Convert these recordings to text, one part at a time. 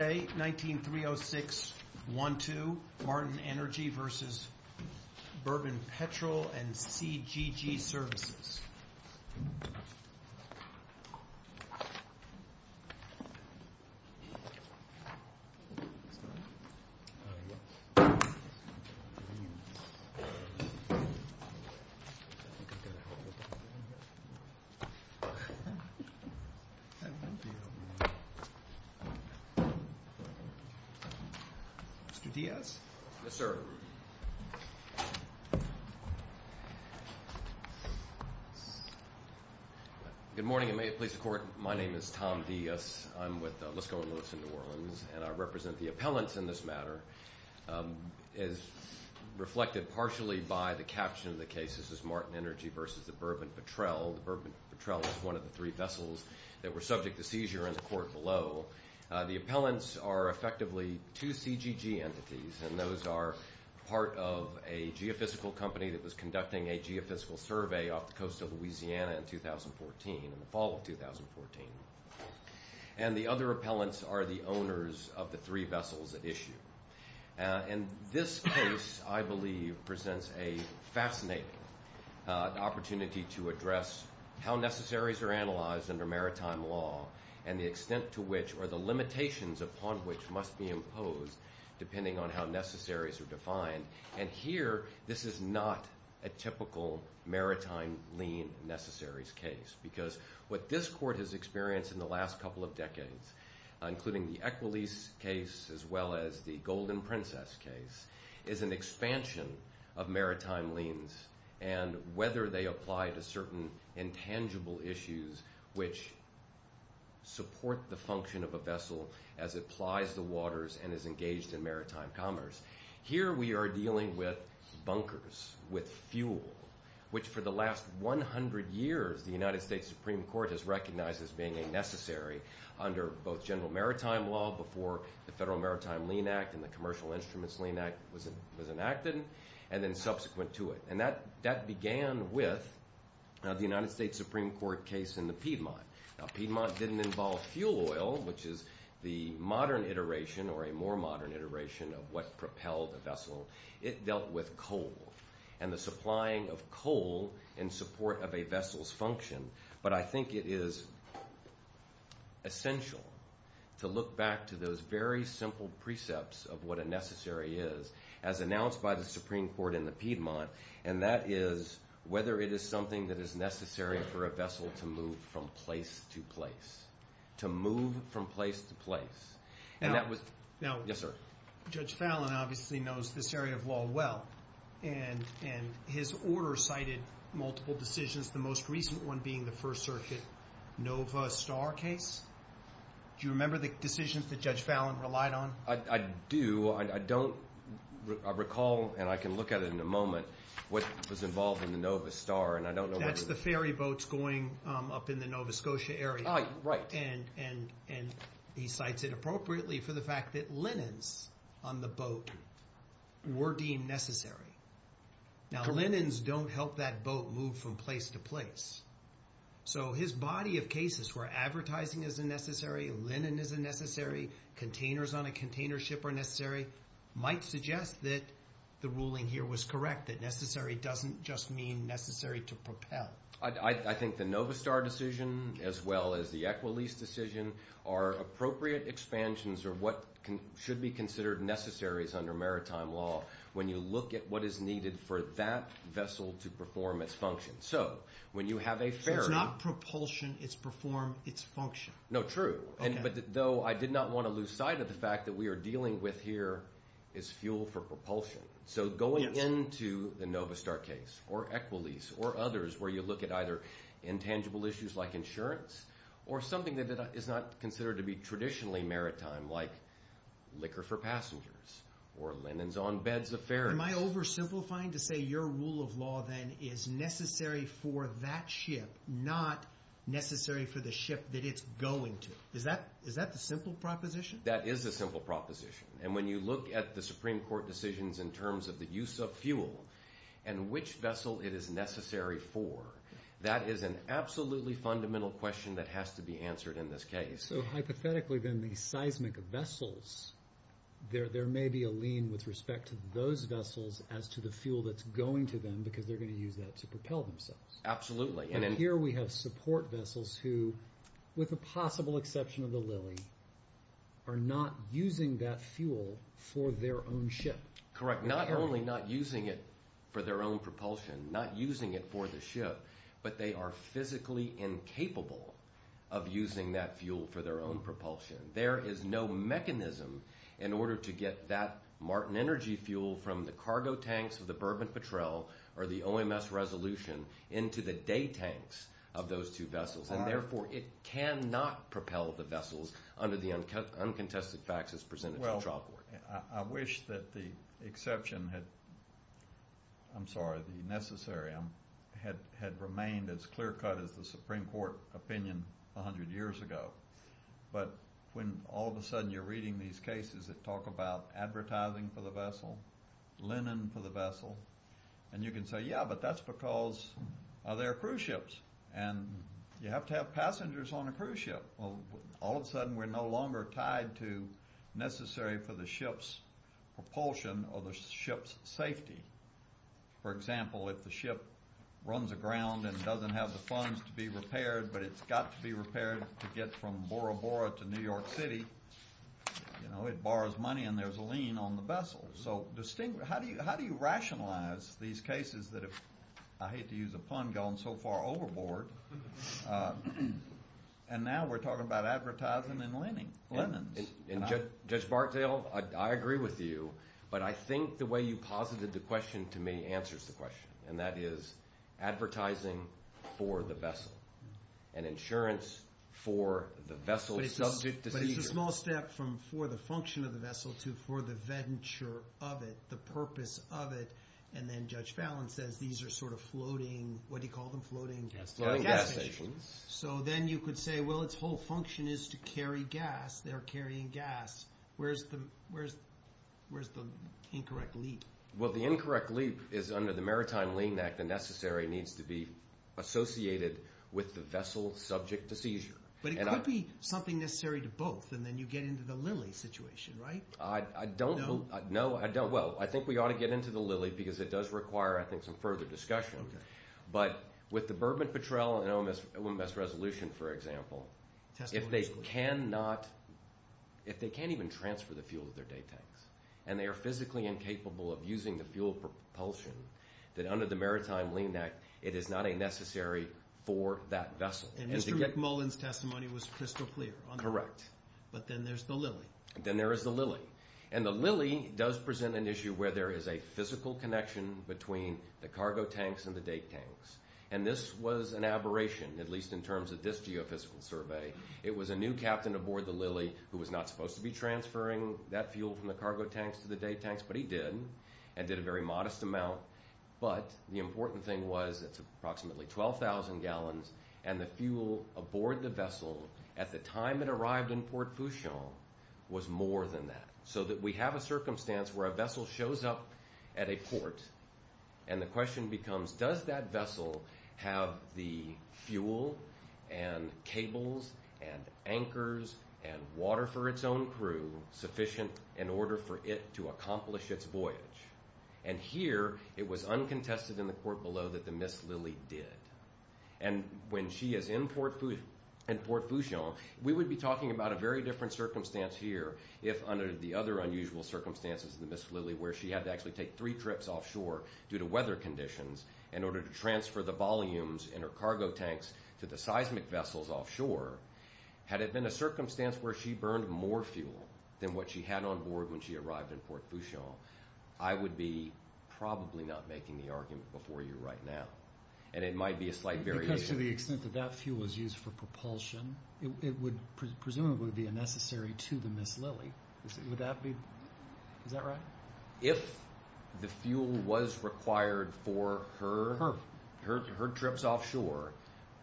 19-306-12, Martin Energy v. Bourbon Petrel and CGG Services. Mr. Diaz. Yes, sir. Good morning, and may it please the Court, my name is Tom Diaz. I'm with Lisco & Lewis in New Orleans, and I represent the appellants in this matter. As reflected partially by the caption of the case, this is Martin Energy v. Bourbon Petrel. Bourbon Petrel is one of the three vessels that were subject to seizure in the court below. The appellants are effectively two CGG entities, and those are part of a geophysical company that was conducting a geophysical survey off the coast of Louisiana in 2014, in the fall of 2014. And the other appellants are the owners of the three vessels at issue. And this case, I believe, presents a fascinating opportunity to address how necessaries are analyzed under maritime law and the extent to which or the limitations upon which must be imposed, depending on how necessaries are defined. And here, this is not a typical maritime lien necessaries case, because what this court has experienced in the last couple of decades, including the Equalese case as well as the Golden Princess case, is an expansion of maritime liens and whether they apply to certain intangible issues which support the function of a vessel as it plies the waters and is engaged in maritime commerce. Here we are dealing with bunkers, with fuel, which for the last 100 years the United States Supreme Court has recognized as being a necessary under both general maritime law before the Federal Maritime Lien Act and the Commercial Instruments Lien Act was enacted, and then subsequent to it. And that began with the United States Supreme Court case in the Piedmont. Now, Piedmont didn't involve fuel oil, which is the modern iteration or a more modern iteration of what propelled a vessel. It dealt with coal and the supplying of coal in support of a vessel's function. But I think it is essential to look back to those very simple precepts of what a necessary is as announced by the Supreme Court in the Piedmont, and that is whether it is something that is necessary for a vessel to move from place to place, to move from place to place. Now, Judge Fallon obviously knows this area of law well, and his order cited multiple decisions, the most recent one being the First Circuit Nova Star case. Do you remember the decisions that Judge Fallon relied on? I do. I don't. I recall, and I can look at it in a moment, what was involved in the Nova Star. That's the ferry boats going up in the Nova Scotia area. Oh, right. And he cites it appropriately for the fact that linens on the boat were deemed necessary. Now, linens don't help that boat move from place to place. So his body of cases where advertising is a necessary, linen is a necessary, containers on a container ship are necessary, might suggest that the ruling here was correct, that necessary doesn't just mean necessary to propel. I think the Nova Star decision as well as the Equalese decision are appropriate expansions of what should be considered necessaries under maritime law when you look at what is needed for that vessel to perform its function. So when you have a ferry— So it's not propulsion, it's perform, it's function. No, true, but though I did not want to lose sight of the fact that we are dealing with here is fuel for propulsion. So going into the Nova Star case or Equalese or others where you look at either intangible issues like insurance or something that is not considered to be traditionally maritime like liquor for passengers or linens on beds of ferries— Am I oversimplifying to say your rule of law then is necessary for that ship, not necessary for the ship that it's going to? Is that the simple proposition? That is a simple proposition. And when you look at the Supreme Court decisions in terms of the use of fuel and which vessel it is necessary for, that is an absolutely fundamental question that has to be answered in this case. So hypothetically then these seismic vessels, there may be a lien with respect to those vessels as to the fuel that's going to them because they're going to use that to propel themselves. Absolutely. And here we have support vessels who, with the possible exception of the Lilly, are not using that fuel for their own ship. Correct. Not only not using it for their own propulsion, not using it for the ship, but they are physically incapable of using that fuel for their own propulsion. There is no mechanism in order to get that Martin Energy fuel from the cargo tanks of the Bourbon Patrel or the OMS Resolution into the day tanks of those two vessels. And therefore it cannot propel the vessels under the uncontested facts as presented to the trial court. Well, I wish that the exception had, I'm sorry, the necessary had remained as clear cut as the Supreme Court opinion 100 years ago. But when all of a sudden you're reading these cases that talk about advertising for the vessel, linen for the vessel, and you can say, yeah, but that's because they're cruise ships and you have to have passengers on a cruise ship. Well, all of a sudden we're no longer tied to necessary for the ship's propulsion or the ship's safety. For example, if the ship runs aground and doesn't have the funds to be repaired, but it's got to be repaired to get from Bora Bora to New York City, it borrows money and there's a lien on the vessel. So how do you rationalize these cases that have, I hate to use a pun, gone so far overboard? And now we're talking about advertising and linens. And Judge Bartdale, I agree with you, but I think the way you posited the question to me answers the question, and that is advertising for the vessel and insurance for the vessel's subject to seizure. But it's a small step from for the function of the vessel to for the venture of it, the purpose of it. And then Judge Fallon says these are sort of floating, what do you call them, floating? Floating gas stations. Floating gas stations. So then you could say, well, its whole function is to carry gas. They're carrying gas. Where's the incorrect leap? Well, the incorrect leap is under the Maritime Lien Act. The necessary needs to be associated with the vessel subject to seizure. But it could be something necessary to both, and then you get into the Lilly situation, right? I don't – No? No, I don't. Well, I think we ought to get into the Lilly because it does require, I think, some further discussion. Okay. But with the Bourbon-Patrel and OMS resolution, for example, if they can't even transfer the fuel to their day tanks and they are physically incapable of using the fuel propulsion, then under the Maritime Lien Act, it is not a necessary for that vessel. And Mr. McMullen's testimony was crystal clear on that. Correct. But then there's the Lilly. Then there is the Lilly. And the Lilly does present an issue where there is a physical connection between the cargo tanks and the day tanks. And this was an aberration, at least in terms of this geophysical survey. It was a new captain aboard the Lilly who was not supposed to be transferring that fuel from the cargo tanks to the day tanks, but he did and did a very modest amount. But the important thing was it's approximately 12,000 gallons, and the fuel aboard the vessel at the time it arrived in Port Fouchon was more than that, so that we have a circumstance where a vessel shows up at a port, and the question becomes, does that vessel have the fuel and cables and anchors and water for its own crew sufficient in order for it to accomplish its voyage? And here, it was uncontested in the court below that the Miss Lilly did. And when she is in Port Fouchon, we would be talking about a very different circumstance here if under the other unusual circumstances of the Miss Lilly where she had to actually take three trips offshore due to weather conditions in order to transfer the volumes in her cargo tanks to the seismic vessels offshore. Had it been a circumstance where she burned more fuel than what she had on board when she arrived in Port Fouchon, I would be probably not making the argument before you right now. And it might be a slight variation. Because to the extent that that fuel was used for propulsion, it would presumably be a necessary to the Miss Lilly. Would that be—is that right? If the fuel was required for her trips offshore,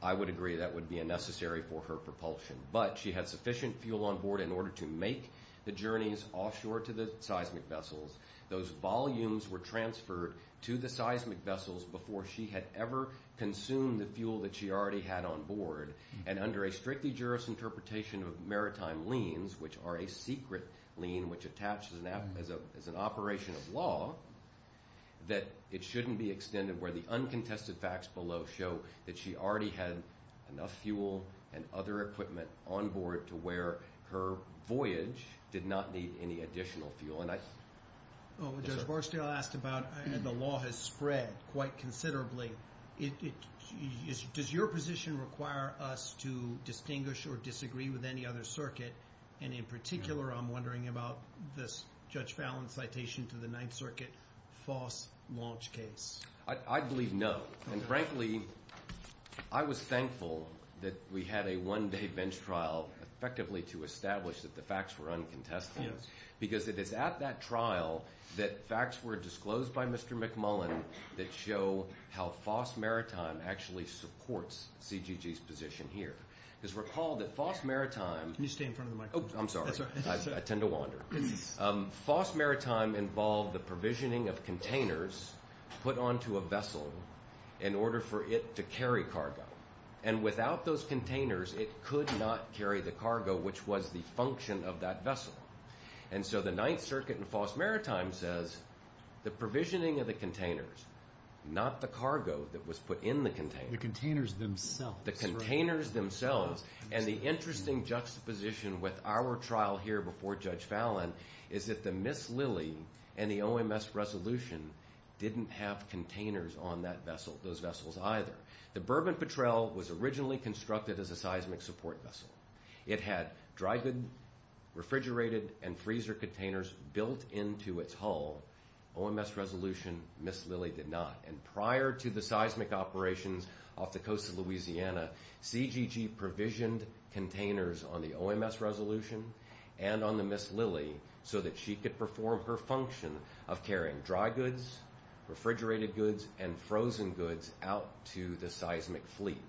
I would agree that would be a necessary for her propulsion. But she had sufficient fuel on board in order to make the journeys offshore to the seismic vessels. Those volumes were transferred to the seismic vessels before she had ever consumed the fuel that she already had on board. And under a strictly jurisinterpretation of maritime liens, which are a secret lien which attaches as an operation of law, that it shouldn't be extended where the uncontested facts below show that she already had enough fuel and other equipment on board to where her voyage did not need any additional fuel. Judge Barstow asked about the law has spread quite considerably. Does your position require us to distinguish or disagree with any other circuit? And in particular, I'm wondering about this Judge Fallon citation to the Ninth Circuit false launch case. I believe no. And frankly, I was thankful that we had a one-day bench trial effectively to establish that the facts were uncontested. Because it is at that trial that facts were disclosed by Mr. McMullen that show how FOSS Maritime actually supports CGG's position here. Because recall that FOSS Maritime— Can you stay in front of the microphone? Oh, I'm sorry. I tend to wander. FOSS Maritime involved the provisioning of containers put onto a vessel in order for it to carry cargo. And without those containers, it could not carry the cargo, which was the function of that vessel. And so the Ninth Circuit in FOSS Maritime says the provisioning of the containers, not the cargo that was put in the containers. The containers themselves. The containers themselves. And the interesting juxtaposition with our trial here before Judge Fallon is that the Miss Lily and the OMS resolution didn't have containers on those vessels either. The Bourbon Patrel was originally constructed as a seismic support vessel. It had dry goods, refrigerated, and freezer containers built into its hull. OMS resolution, Miss Lily did not. And prior to the seismic operations off the coast of Louisiana, CGG provisioned containers on the OMS resolution and on the Miss Lily so that she could perform her function of carrying dry goods, refrigerated goods, and frozen goods out to the seismic fleet.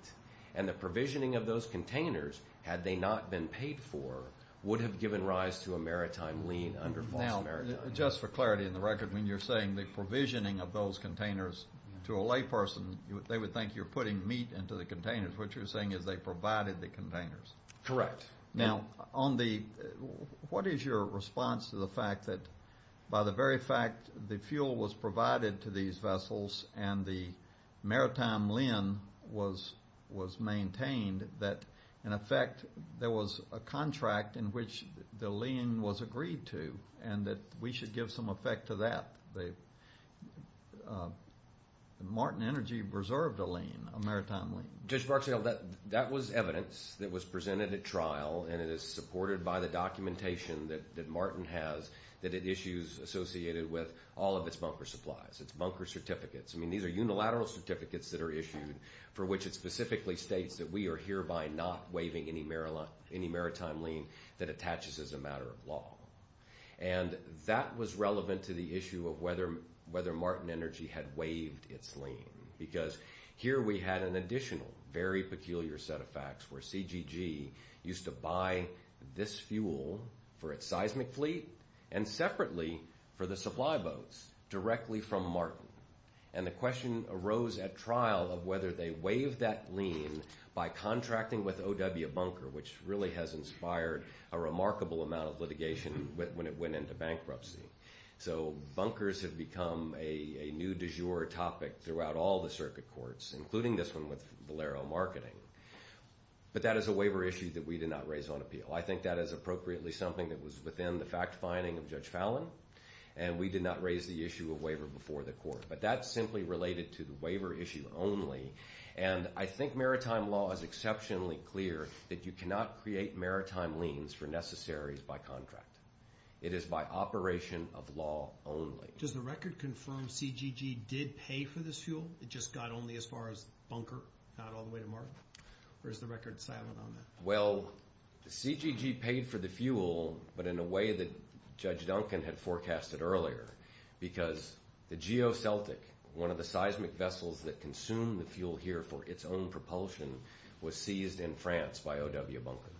And the provisioning of those containers, had they not been paid for, would have given rise to a maritime lien under FOSS Maritime. Now, just for clarity on the record, when you're saying the provisioning of those containers to a layperson, they would think you're putting meat into the containers. What you're saying is they provided the containers. Correct. Now, what is your response to the fact that by the very fact the fuel was provided to these vessels and the maritime lien was maintained, that, in effect, there was a contract in which the lien was agreed to and that we should give some effect to that? Martin Energy reserved a lien, a maritime lien. Judge Barksdale, that was evidence that was presented at trial, and it is supported by the documentation that Martin has that it issues associated with all of its bunker supplies, its bunker certificates. I mean, these are unilateral certificates that are issued for which it specifically states that we are hereby not waiving any maritime lien that attaches as a matter of law. And that was relevant to the issue of whether Martin Energy had waived its lien. Because here we had an additional very peculiar set of facts where CGG used to buy this fuel for its seismic fleet and separately for the supply boats directly from Martin. And the question arose at trial of whether they waived that lien by contracting with O.W. Bunker, which really has inspired a remarkable amount of litigation when it went into bankruptcy. So bunkers have become a new du jour topic throughout all the circuit courts, including this one with Valero Marketing. But that is a waiver issue that we did not raise on appeal. I think that is appropriately something that was within the fact finding of Judge Fallon, and we did not raise the issue of waiver before the court. But that's simply related to the waiver issue only. And I think maritime law is exceptionally clear that you cannot create maritime liens for necessaries by contract. It is by operation of law only. Does the record confirm CGG did pay for this fuel? It just got only as far as Bunker, not all the way to Martin? Or is the record silent on that? Well, CGG paid for the fuel, but in a way that Judge Duncan had forecasted earlier. Because the GeoCeltic, one of the seismic vessels that consume the fuel here for its own propulsion, was seized in France by O.W. Bunker.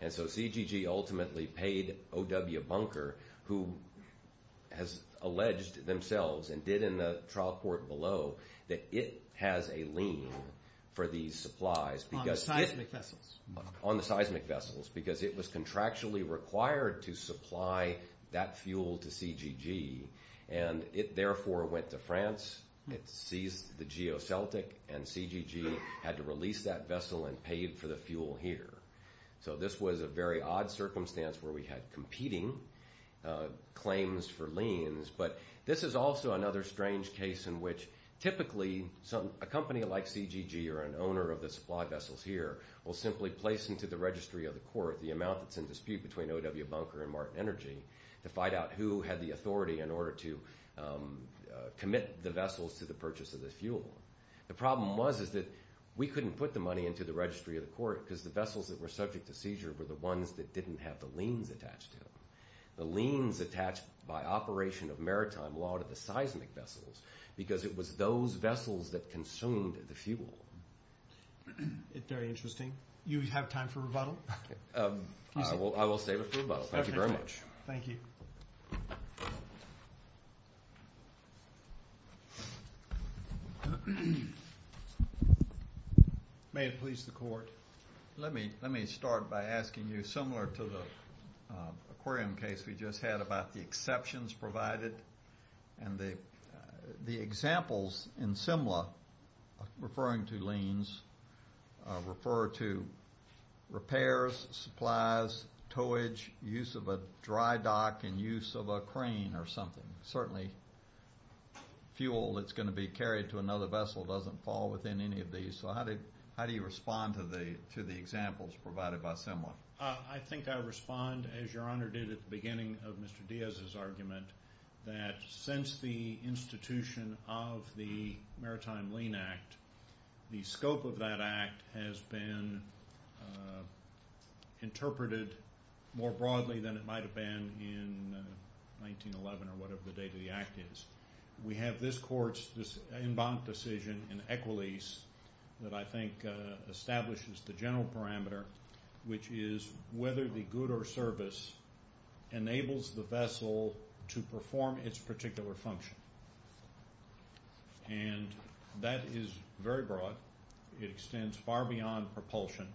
And so CGG ultimately paid O.W. Bunker, who has alleged themselves and did in the trial court below that it has a lien for these supplies. On the seismic vessels? On the seismic vessels, because it was contractually required to supply that fuel to CGG. And it therefore went to France. It seized the GeoCeltic, and CGG had to release that vessel and paid for the fuel here. So this was a very odd circumstance where we had competing claims for liens. But this is also another strange case in which typically a company like CGG or an owner of the supply vessels here will simply place into the registry of the court the amount that's in dispute between O.W. Bunker and Martin Energy to find out who had the authority in order to commit the vessels to the purchase of this fuel. The problem was that we couldn't put the money into the registry of the court because the vessels that were subject to seizure were the ones that didn't have the liens attached to them. The liens attached by operation of maritime law to the seismic vessels because it was those vessels that consumed the fuel. Very interesting. You have time for rebuttal? I will save it for rebuttal. Thank you very much. Thank you. May it please the court. Let me start by asking you similar to the aquarium case we just had about the exceptions provided. And the examples in Simla referring to liens refer to repairs, supplies, towage, use of a dry dock and use of a crane or something. Certainly fuel that's going to be carried to another vessel doesn't fall within any of these. So how do you respond to the examples provided by Simla? I think I respond as Your Honor did at the beginning of Mr. Diaz's argument that since the institution of the Maritime Lien Act, the scope of that act has been interpreted more broadly than it might have been in 1911 or whatever the date of the act is. We have this court's in bond decision in Equalese that I think establishes the general parameter, which is whether the good or service enables the vessel to perform its particular function. And that is very broad. It extends far beyond propulsion.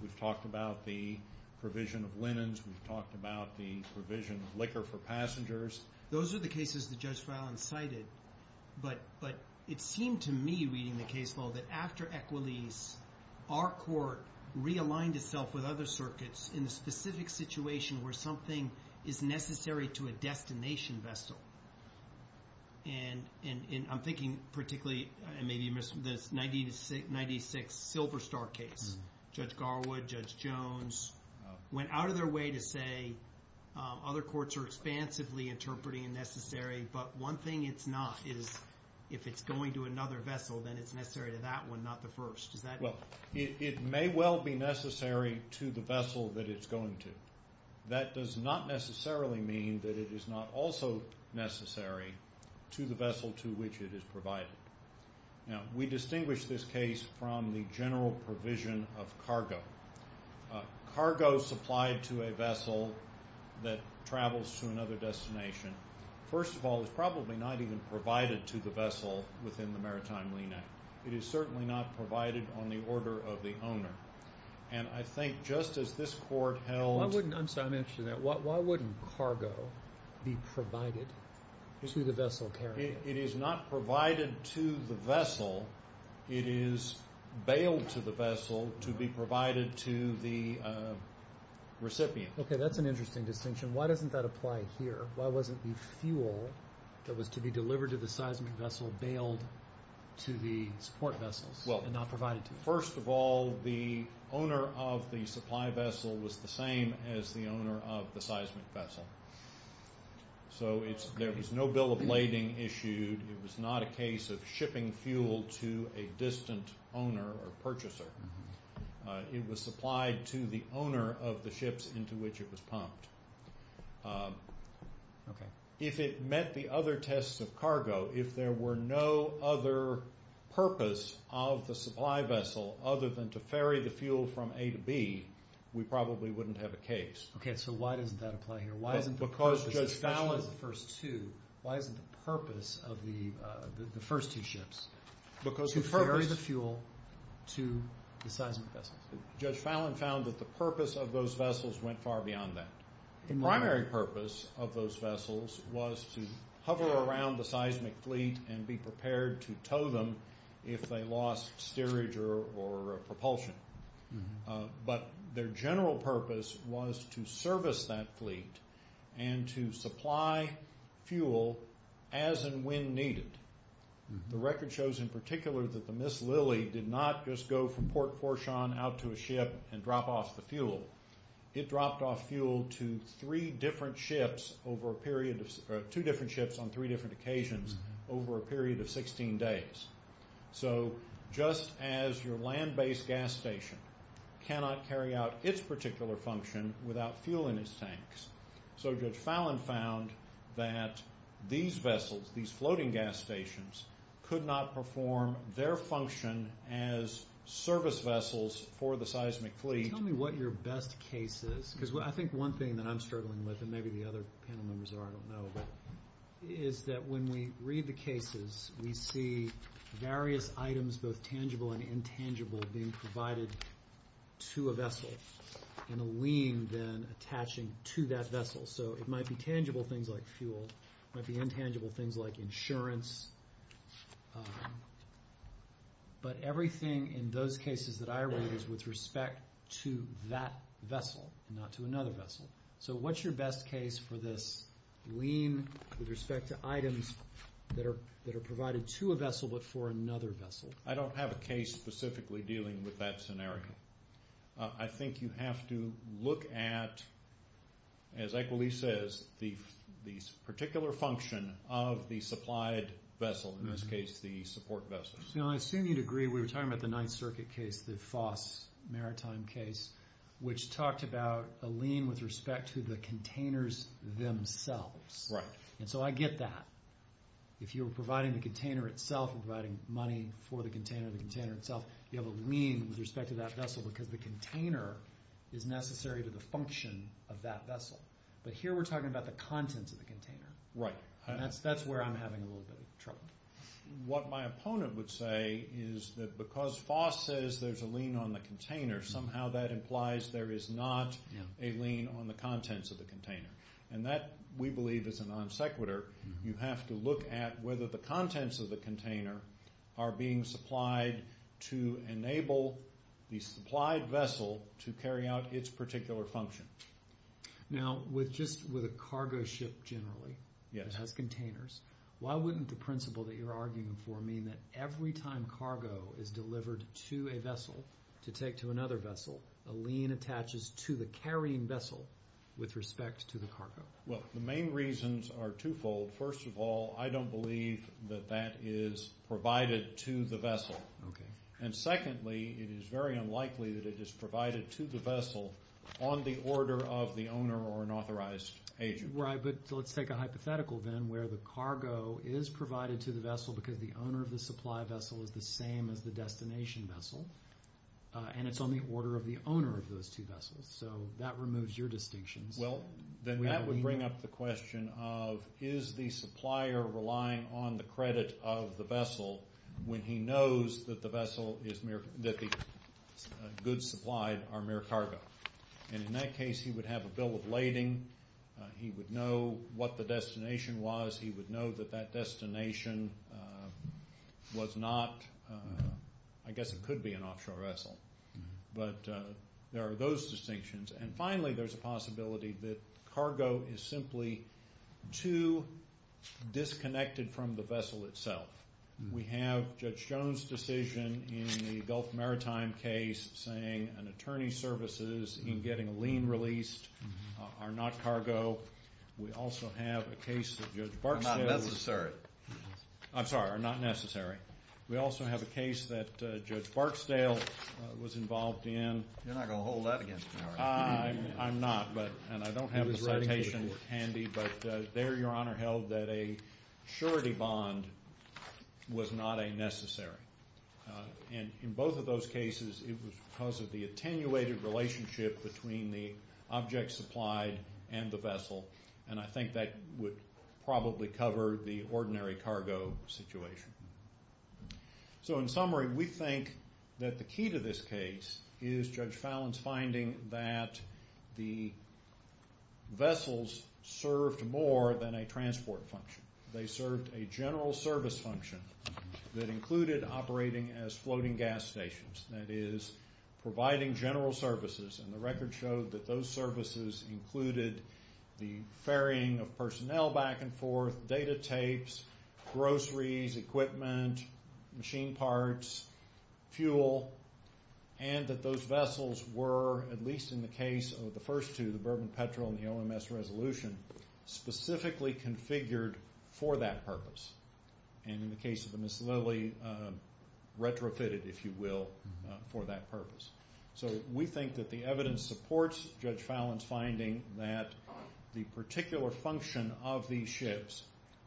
We've talked about the provision of linens. We've talked about the provision of liquor for passengers. Those are the cases that Judge Fallin cited. But it seemed to me reading the case law that after Equalese, our court realigned itself with other circuits in the specific situation where something is necessary to a destination vessel. And I'm thinking particularly maybe you missed this 1996 Silver Star case. Judge Garwood, Judge Jones went out of their way to say other courts are expansively interpreting necessary, but one thing it's not is if it's going to another vessel, then it's necessary to that one, not the first. Well, it may well be necessary to the vessel that it's going to. That does not necessarily mean that it is not also necessary to the vessel to which it is provided. Now, we distinguish this case from the general provision of cargo. Cargo supplied to a vessel that travels to another destination, first of all, is probably not even provided to the vessel within the maritime lineage. It is certainly not provided on the order of the owner. And I think just as this court held— I'm interested in that. Why wouldn't cargo be provided to the vessel carrier? It is not provided to the vessel. It is bailed to the vessel to be provided to the recipient. Okay, that's an interesting distinction. Why doesn't that apply here? Why wasn't the fuel that was to be delivered to the seismic vessel bailed to the support vessels and not provided to them? First of all, the owner of the supply vessel was the same as the owner of the seismic vessel. So there was no bill of lading issued. It was not a case of shipping fuel to a distant owner or purchaser. It was supplied to the owner of the ships into which it was pumped. If it met the other tests of cargo, if there were no other purpose of the supply vessel other than to ferry the fuel from A to B, we probably wouldn't have a case. Okay, so why doesn't that apply here? Because Judge Fallon Why isn't the purpose of the first two ships to ferry the fuel to the seismic vessels? Judge Fallon found that the purpose of those vessels went far beyond that. The primary purpose of those vessels was to hover around the seismic fleet and be prepared to tow them if they lost steerage or propulsion. But their general purpose was to service that fleet and to supply fuel as and when needed. The record shows in particular that the Miss Lily did not just go from Port Fourchon out to a ship and drop off the fuel. It dropped off fuel to three different ships over a period of two different ships on three different occasions over a period of 16 days. So just as your land-based gas station cannot carry out its particular function without fuel in its tanks, so Judge Fallon found that these vessels, these floating gas stations, could not perform their function as service vessels for the seismic fleet. Tell me what your best case is. Because I think one thing that I'm struggling with, and maybe the other panel members are, I don't know, is that when we read the cases, we see various items, both tangible and intangible, being provided to a vessel and a lien then attaching to that vessel. So it might be tangible things like fuel. It might be intangible things like insurance. But everything in those cases that I read is with respect to that vessel and not to another vessel. So what's your best case for this lien with respect to items that are provided to a vessel but for another vessel? I don't have a case specifically dealing with that scenario. I think you have to look at, as Equilee says, the particular function of the supplied vessel, in this case the support vessel. I assume you'd agree, we were talking about the Ninth Circuit case, the Foss Maritime case, which talked about a lien with respect to the containers themselves. Right. And so I get that. If you were providing the container itself and providing money for the container of the container itself, you have a lien with respect to that vessel because the container is necessary to the function of that vessel. But here we're talking about the contents of the container. Right. And that's where I'm having a little bit of trouble. What my opponent would say is that because Foss says there's a lien on the container, somehow that implies there is not a lien on the contents of the container. And that, we believe, is a non sequitur. You have to look at whether the contents of the container are being supplied to enable the supplied vessel to carry out its particular function. Now, just with a cargo ship generally that has containers, why wouldn't the principle that you're arguing for mean that every time cargo is delivered to a vessel to take to another vessel, a lien attaches to the carrying vessel with respect to the cargo? Well, the main reasons are twofold. First of all, I don't believe that that is provided to the vessel. Okay. And secondly, it is very unlikely that it is provided to the vessel on the order of the owner or an authorized agent. Right. But let's take a hypothetical then where the cargo is provided to the vessel because the owner of the supply vessel is the same as the destination vessel, and it's on the order of the owner of those two vessels. So that removes your distinctions. Well, then that would bring up the question of is the supplier relying on the credit of the vessel when he knows that the goods supplied are mere cargo. And in that case, he would have a bill of lading. He would know what the destination was. He would know that that destination was not, I guess it could be an offshore vessel. But there are those distinctions. And finally, there's a possibility that cargo is simply too disconnected from the vessel itself. We have Judge Jones' decision in the Gulf Maritime case saying an attorney's services in getting a lien released are not cargo. We also have a case of Judge Barksdale. Are not necessary. I'm sorry, are not necessary. We also have a case that Judge Barksdale was involved in. You're not going to hold that against me, are you? I'm not, and I don't have the citation handy. But there, Your Honor, held that a surety bond was not a necessary. And in both of those cases, it was because of the attenuated relationship between the object supplied and the vessel. And I think that would probably cover the ordinary cargo situation. So in summary, we think that the key to this case is Judge Fallon's finding that the vessels served more than a transport function. They served a general service function that included operating as floating gas stations. That is, providing general services. And the record showed that those services included the ferrying of personnel back and forth, data tapes, groceries, equipment, machine parts, fuel, and that those vessels were, at least in the case of the first two, the Bourbon Petrel and the OMS Resolution, specifically configured for that purpose. And in the case of the Miss Lily, retrofitted, if you will, for that purpose. So we think that the evidence supports Judge Fallon's finding that the particular function of these ships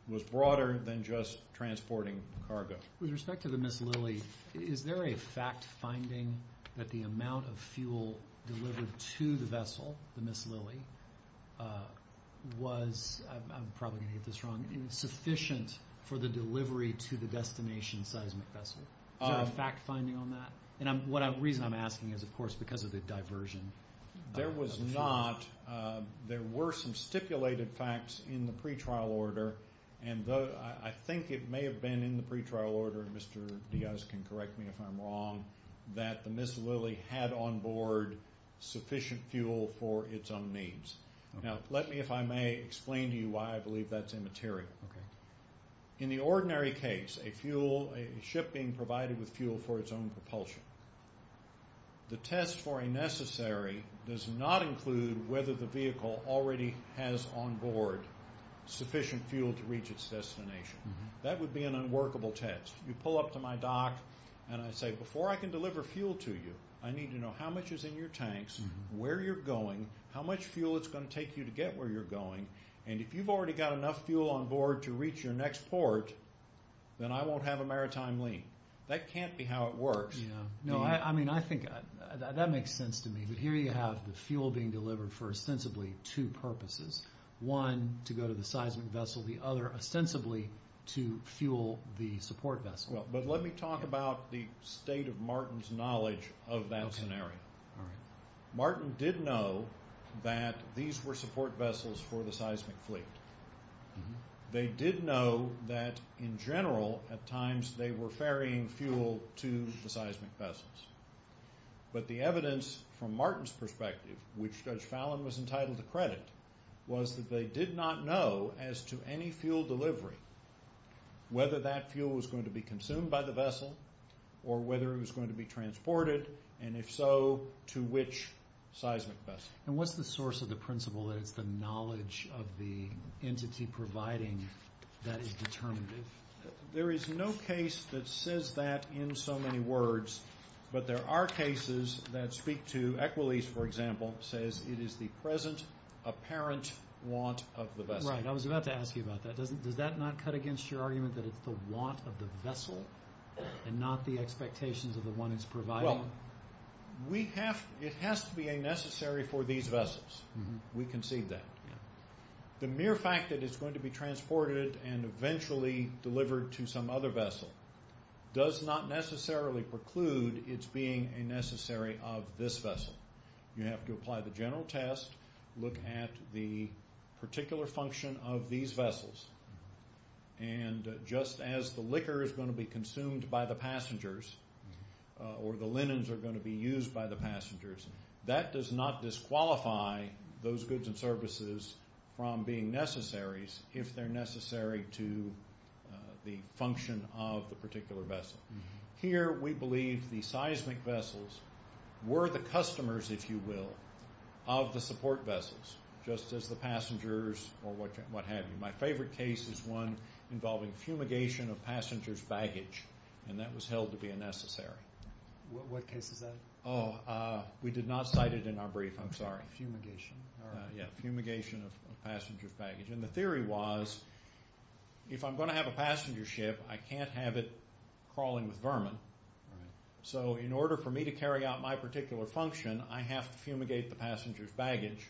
was broader than just transporting cargo. With respect to the Miss Lily, is there a fact-finding that the amount of fuel delivered to the vessel, the Miss Lily, was, I'm probably going to get this wrong, insufficient for the delivery to the destination seismic vessel? Is there a fact-finding on that? And the reason I'm asking is, of course, because of the diversion. There was not. There were some stipulated facts in the pretrial order, and I think it may have been in the pretrial order, and Mr. Diaz can correct me if I'm wrong, that the Miss Lily had on board sufficient fuel for its own needs. Now, let me, if I may, explain to you why I believe that's immaterial. In the ordinary case, a ship being provided with fuel for its own propulsion, the test for a necessary does not include whether the vehicle already has on board sufficient fuel to reach its destination. That would be an unworkable test. You pull up to my dock, and I say, before I can deliver fuel to you, I need to know how much is in your tanks, where you're going, how much fuel it's going to take you to get where you're going, and if you've already got enough fuel on board to reach your next port, then I won't have a maritime link. That can't be how it works. No, I mean, I think that makes sense to me, but here you have the fuel being delivered for ostensibly two purposes. One, to go to the seismic vessel. The other, ostensibly to fuel the support vessel. But let me talk about the state of Martin's knowledge of that scenario. Martin did know that these were support vessels for the seismic fleet. They did know that, in general, at times they were ferrying fuel to the seismic vessels. But the evidence from Martin's perspective, which Judge Fallon was entitled to credit, was that they did not know as to any fuel delivery, whether that fuel was going to be consumed by the vessel or whether it was going to be transported, and if so, to which seismic vessel. And what's the source of the principle that it's the knowledge of the entity providing that is determinative? There is no case that says that in so many words, but there are cases that speak to, Equalese, for example, says it is the present apparent want of the vessel. Right, I was about to ask you about that. Does that not cut against your argument that it's the want of the vessel and not the expectations of the one that's providing? Well, it has to be a necessary for these vessels. We concede that. The mere fact that it's going to be transported and eventually delivered to some other vessel does not necessarily preclude its being a necessary of this vessel. You have to apply the general test, look at the particular function of these vessels, and just as the liquor is going to be consumed by the passengers or the linens are going to be used by the passengers, that does not disqualify those goods and services from being necessaries if they're necessary to the function of the particular vessel. Here we believe the seismic vessels were the customers, if you will, of the support vessels, just as the passengers or what have you. My favorite case is one involving fumigation of passengers' baggage, and that was held to be a necessary. What case is that? Oh, we did not cite it in our brief. I'm sorry. Fumigation, all right. Yeah, fumigation of passengers' baggage. And the theory was if I'm going to have a passenger ship, I can't have it crawling with vermin. So in order for me to carry out my particular function, I have to fumigate the passengers' baggage,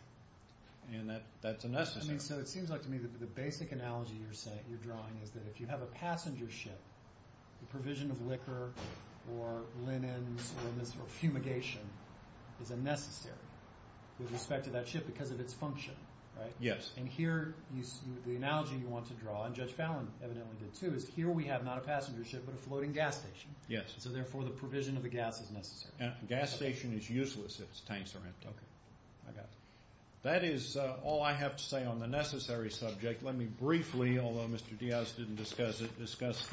and that's a necessary. So it seems like to me that the basic analogy you're drawing is that if you have a passenger ship, the provision of liquor or linens or fumigation is a necessary with respect to that ship because of its function, right? Yes. And here the analogy you want to draw, and Judge Fallon evidently did too, is here we have not a passenger ship but a floating gas station. Yes. So therefore the provision of the gas is necessary. Gas station is useless if its tanks are empty. Okay. I got it. That is all I have to say on the necessary subject. Let me briefly, although Mr. Diaz didn't discuss it, discuss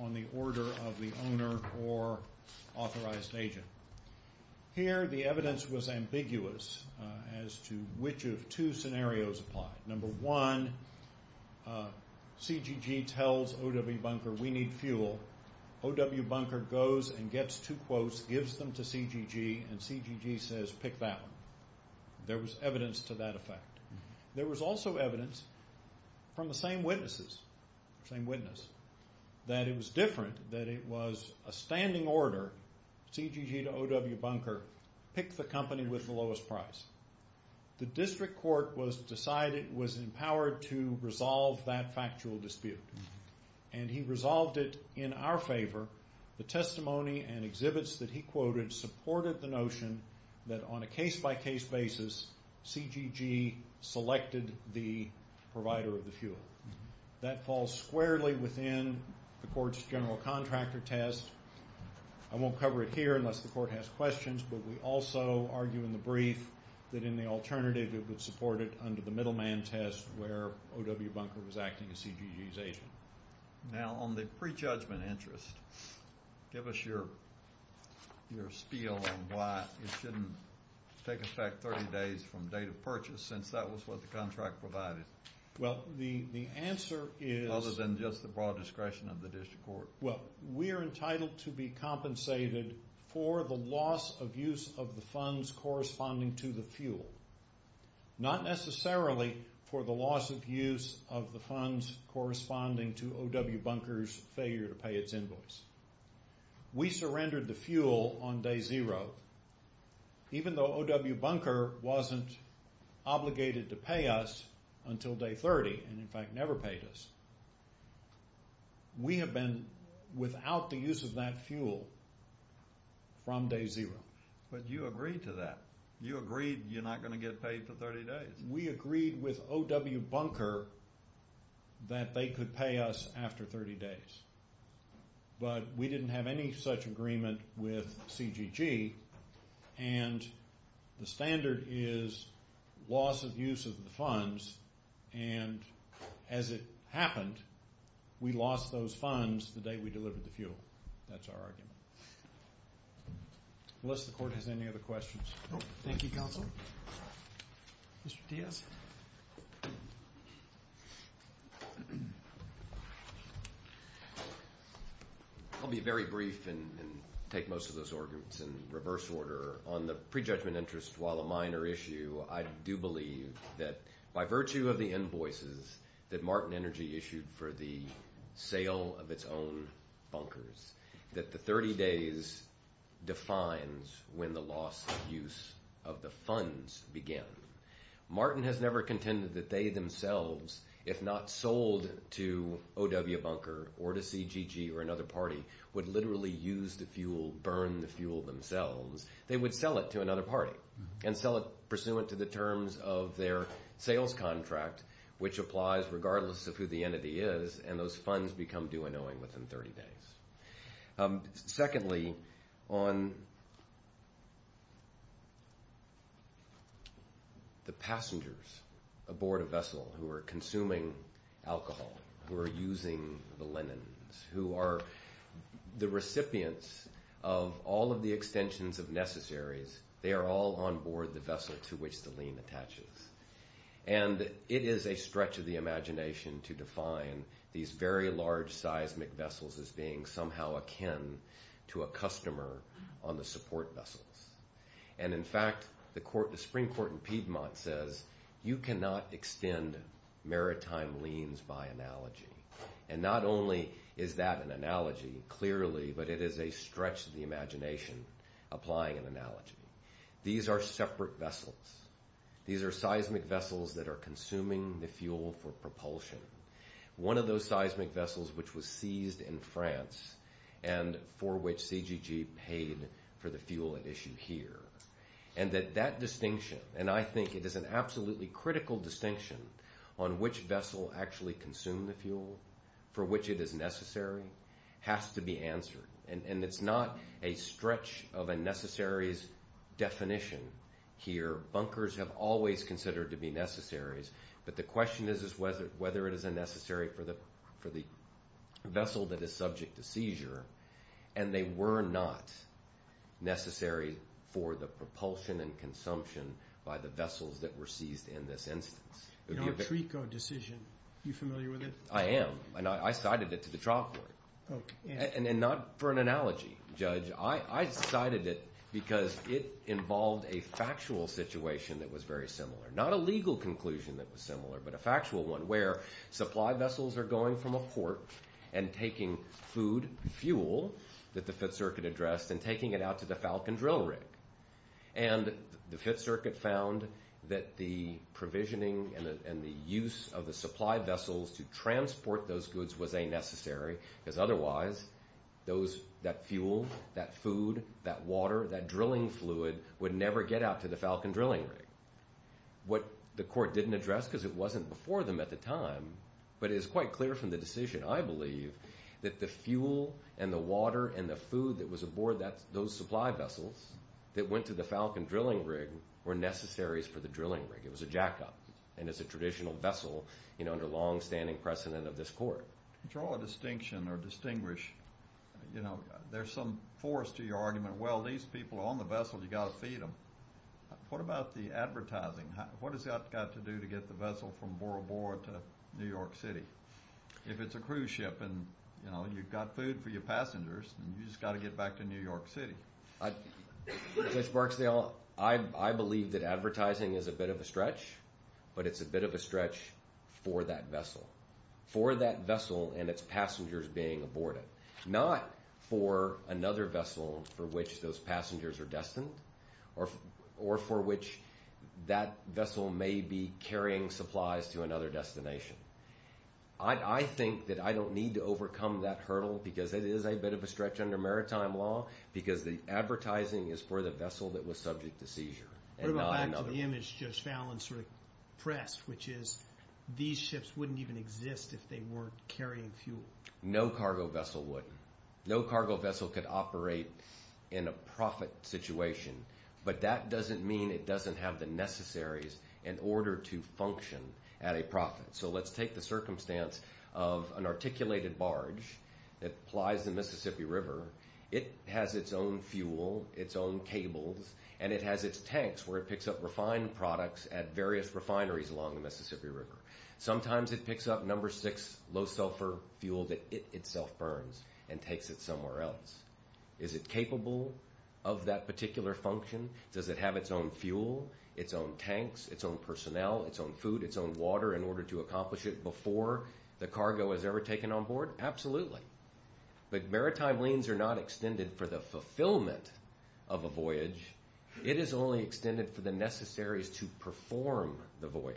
on the order of the owner or authorized agent. Here the evidence was ambiguous as to which of two scenarios applied. Number one, CGG tells O.W. Bunker, we need fuel. O.W. Bunker goes and gets two quotes, gives them to CGG, and CGG says, pick that one. There was evidence to that effect. There was also evidence from the same witnesses, same witness, that it was different, that it was a standing order, CGG to O.W. Bunker, pick the company with the lowest price. The district court was empowered to resolve that factual dispute, and he resolved it in our favor. The testimony and exhibits that he quoted supported the notion that on a case-by-case basis, CGG selected the provider of the fuel. That falls squarely within the court's general contractor test. I won't cover it here unless the court has questions, but we also argue in the brief that in the alternative it would support it under the middleman test where O.W. Bunker was acting as CGG's agent. Now, on the pre-judgment interest, give us your spiel on why it shouldn't take us back 30 days from date of purchase since that was what the contract provided. Well, the answer is— Other than just the broad discretion of the district court. Well, we are entitled to be compensated for the loss of use of the funds corresponding to the fuel, not necessarily for the loss of use of the funds corresponding to O.W. Bunker's failure to pay its invoice. We surrendered the fuel on day zero, even though O.W. Bunker wasn't obligated to pay us until day 30 and, in fact, never paid us. We have been without the use of that fuel from day zero. But you agreed to that. You agreed you're not going to get paid for 30 days. We agreed with O.W. Bunker that they could pay us after 30 days, but we didn't have any such agreement with CGG, and the standard is loss of use of the funds, and as it happened, we lost those funds the day we delivered the fuel. That's our argument. Unless the court has any other questions. Thank you, counsel. Mr. Diaz. I'll be very brief and take most of those arguments in reverse order. On the prejudgment interest, while a minor issue, I do believe that by virtue of the invoices that Martin Energy issued for the sale of its own bunkers, that the 30 days defines when the loss of use of the funds began. Martin has never contended that they themselves, if not sold to O.W. Bunker or to CGG or another party, would literally use the fuel, burn the fuel themselves. They would sell it to another party and sell it pursuant to the terms of their sales contract, which applies regardless of who the entity is, and those funds become due in owing within 30 days. Secondly, on the passengers aboard a vessel who are consuming alcohol, who are using the linens, who are the recipients of all of the extensions of necessaries, they are all on board the vessel to which the lien attaches, and it is a stretch of the imagination to define these very large seismic vessels as being somehow akin to a customer on the support vessels. And in fact, the Supreme Court in Piedmont says you cannot extend maritime liens by analogy. And not only is that an analogy, clearly, but it is a stretch of the imagination applying an analogy. These are separate vessels. These are seismic vessels that are consuming the fuel for propulsion. One of those seismic vessels which was seized in France and for which CGG paid for the fuel at issue here. And that that distinction, and I think it is an absolutely critical distinction on which vessel actually consumed the fuel, for which it is necessary, has to be answered. And it is not a stretch of a necessaries definition here. Bunkers have always considered to be necessaries, but the question is whether it is a necessary for the vessel that is subject to seizure. And they were not necessary for the propulsion and consumption by the vessels that were seized in this instance. In our TRECO decision, are you familiar with it? I am, and I cited it to the trial court. And not for an analogy, Judge. I cited it because it involved a factual situation that was very similar. Not a legal conclusion that was similar, but a factual one where supply vessels are going from a port and taking food, fuel, that the Fifth Circuit addressed, and taking it out to the Falcon drill rig. And the Fifth Circuit found that the provisioning and the use of the supply vessels to transport those goods was a necessary, because otherwise, that fuel, that food, that water, that drilling fluid, would never get out to the Falcon drilling rig. What the court didn't address, because it wasn't before them at the time, but it is quite clear from the decision, I believe, that the fuel and the water and the food that was aboard those supply vessels that went to the Falcon drilling rig were necessaries for the drilling rig. It was a jack-up. And it's a traditional vessel under longstanding precedent of this court. To draw a distinction or distinguish, there's some force to your argument. Well, these people are on the vessel. You've got to feed them. What about the advertising? What has that got to do to get the vessel from Bora Bora to New York City? If it's a cruise ship and you've got food for your passengers, you've just got to get back to New York City. Judge Barksdale, I believe that advertising is a bit of a stretch, but it's a bit of a stretch for that vessel, for that vessel and its passengers being aborted, not for another vessel for which those passengers are destined or for which that vessel may be carrying supplies to another destination. I think that I don't need to overcome that hurdle, because it is a bit of a stretch under maritime law, because the advertising is for the vessel that was subject to seizure. What about back to the image Judge Fallon sort of pressed, which is these ships wouldn't even exist if they weren't carrying fuel? No cargo vessel would. No cargo vessel could operate in a profit situation, but that doesn't mean it doesn't have the necessaries in order to function at a profit. So let's take the circumstance of an articulated barge that plies the Mississippi River. It has its own fuel, its own cables, and it has its tanks where it picks up refined products at various refineries along the Mississippi River. Sometimes it picks up number six low sulfur fuel that it itself burns and takes it somewhere else. Is it capable of that particular function? Does it have its own fuel, its own tanks, its own personnel, its own food, its own water in order to accomplish it before the cargo is ever taken on board? Absolutely. But maritime liens are not extended for the fulfillment of a voyage. It is only extended for the necessaries to perform the voyage.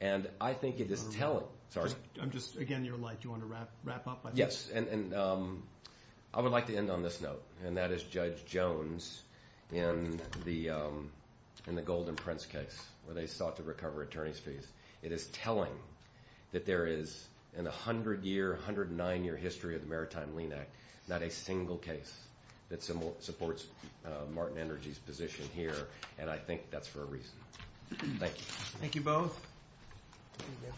And I think it is telling. Sorry. I'm just, again, you're light. Do you want to wrap up? Yes. And I would like to end on this note, where they sought to recover attorney's fees. It is telling that there is in the 100-year, 109-year history of the Maritime Lien Act, not a single case that supports Martin Energy's position here, and I think that's for a reason. Thank you. Thank you both.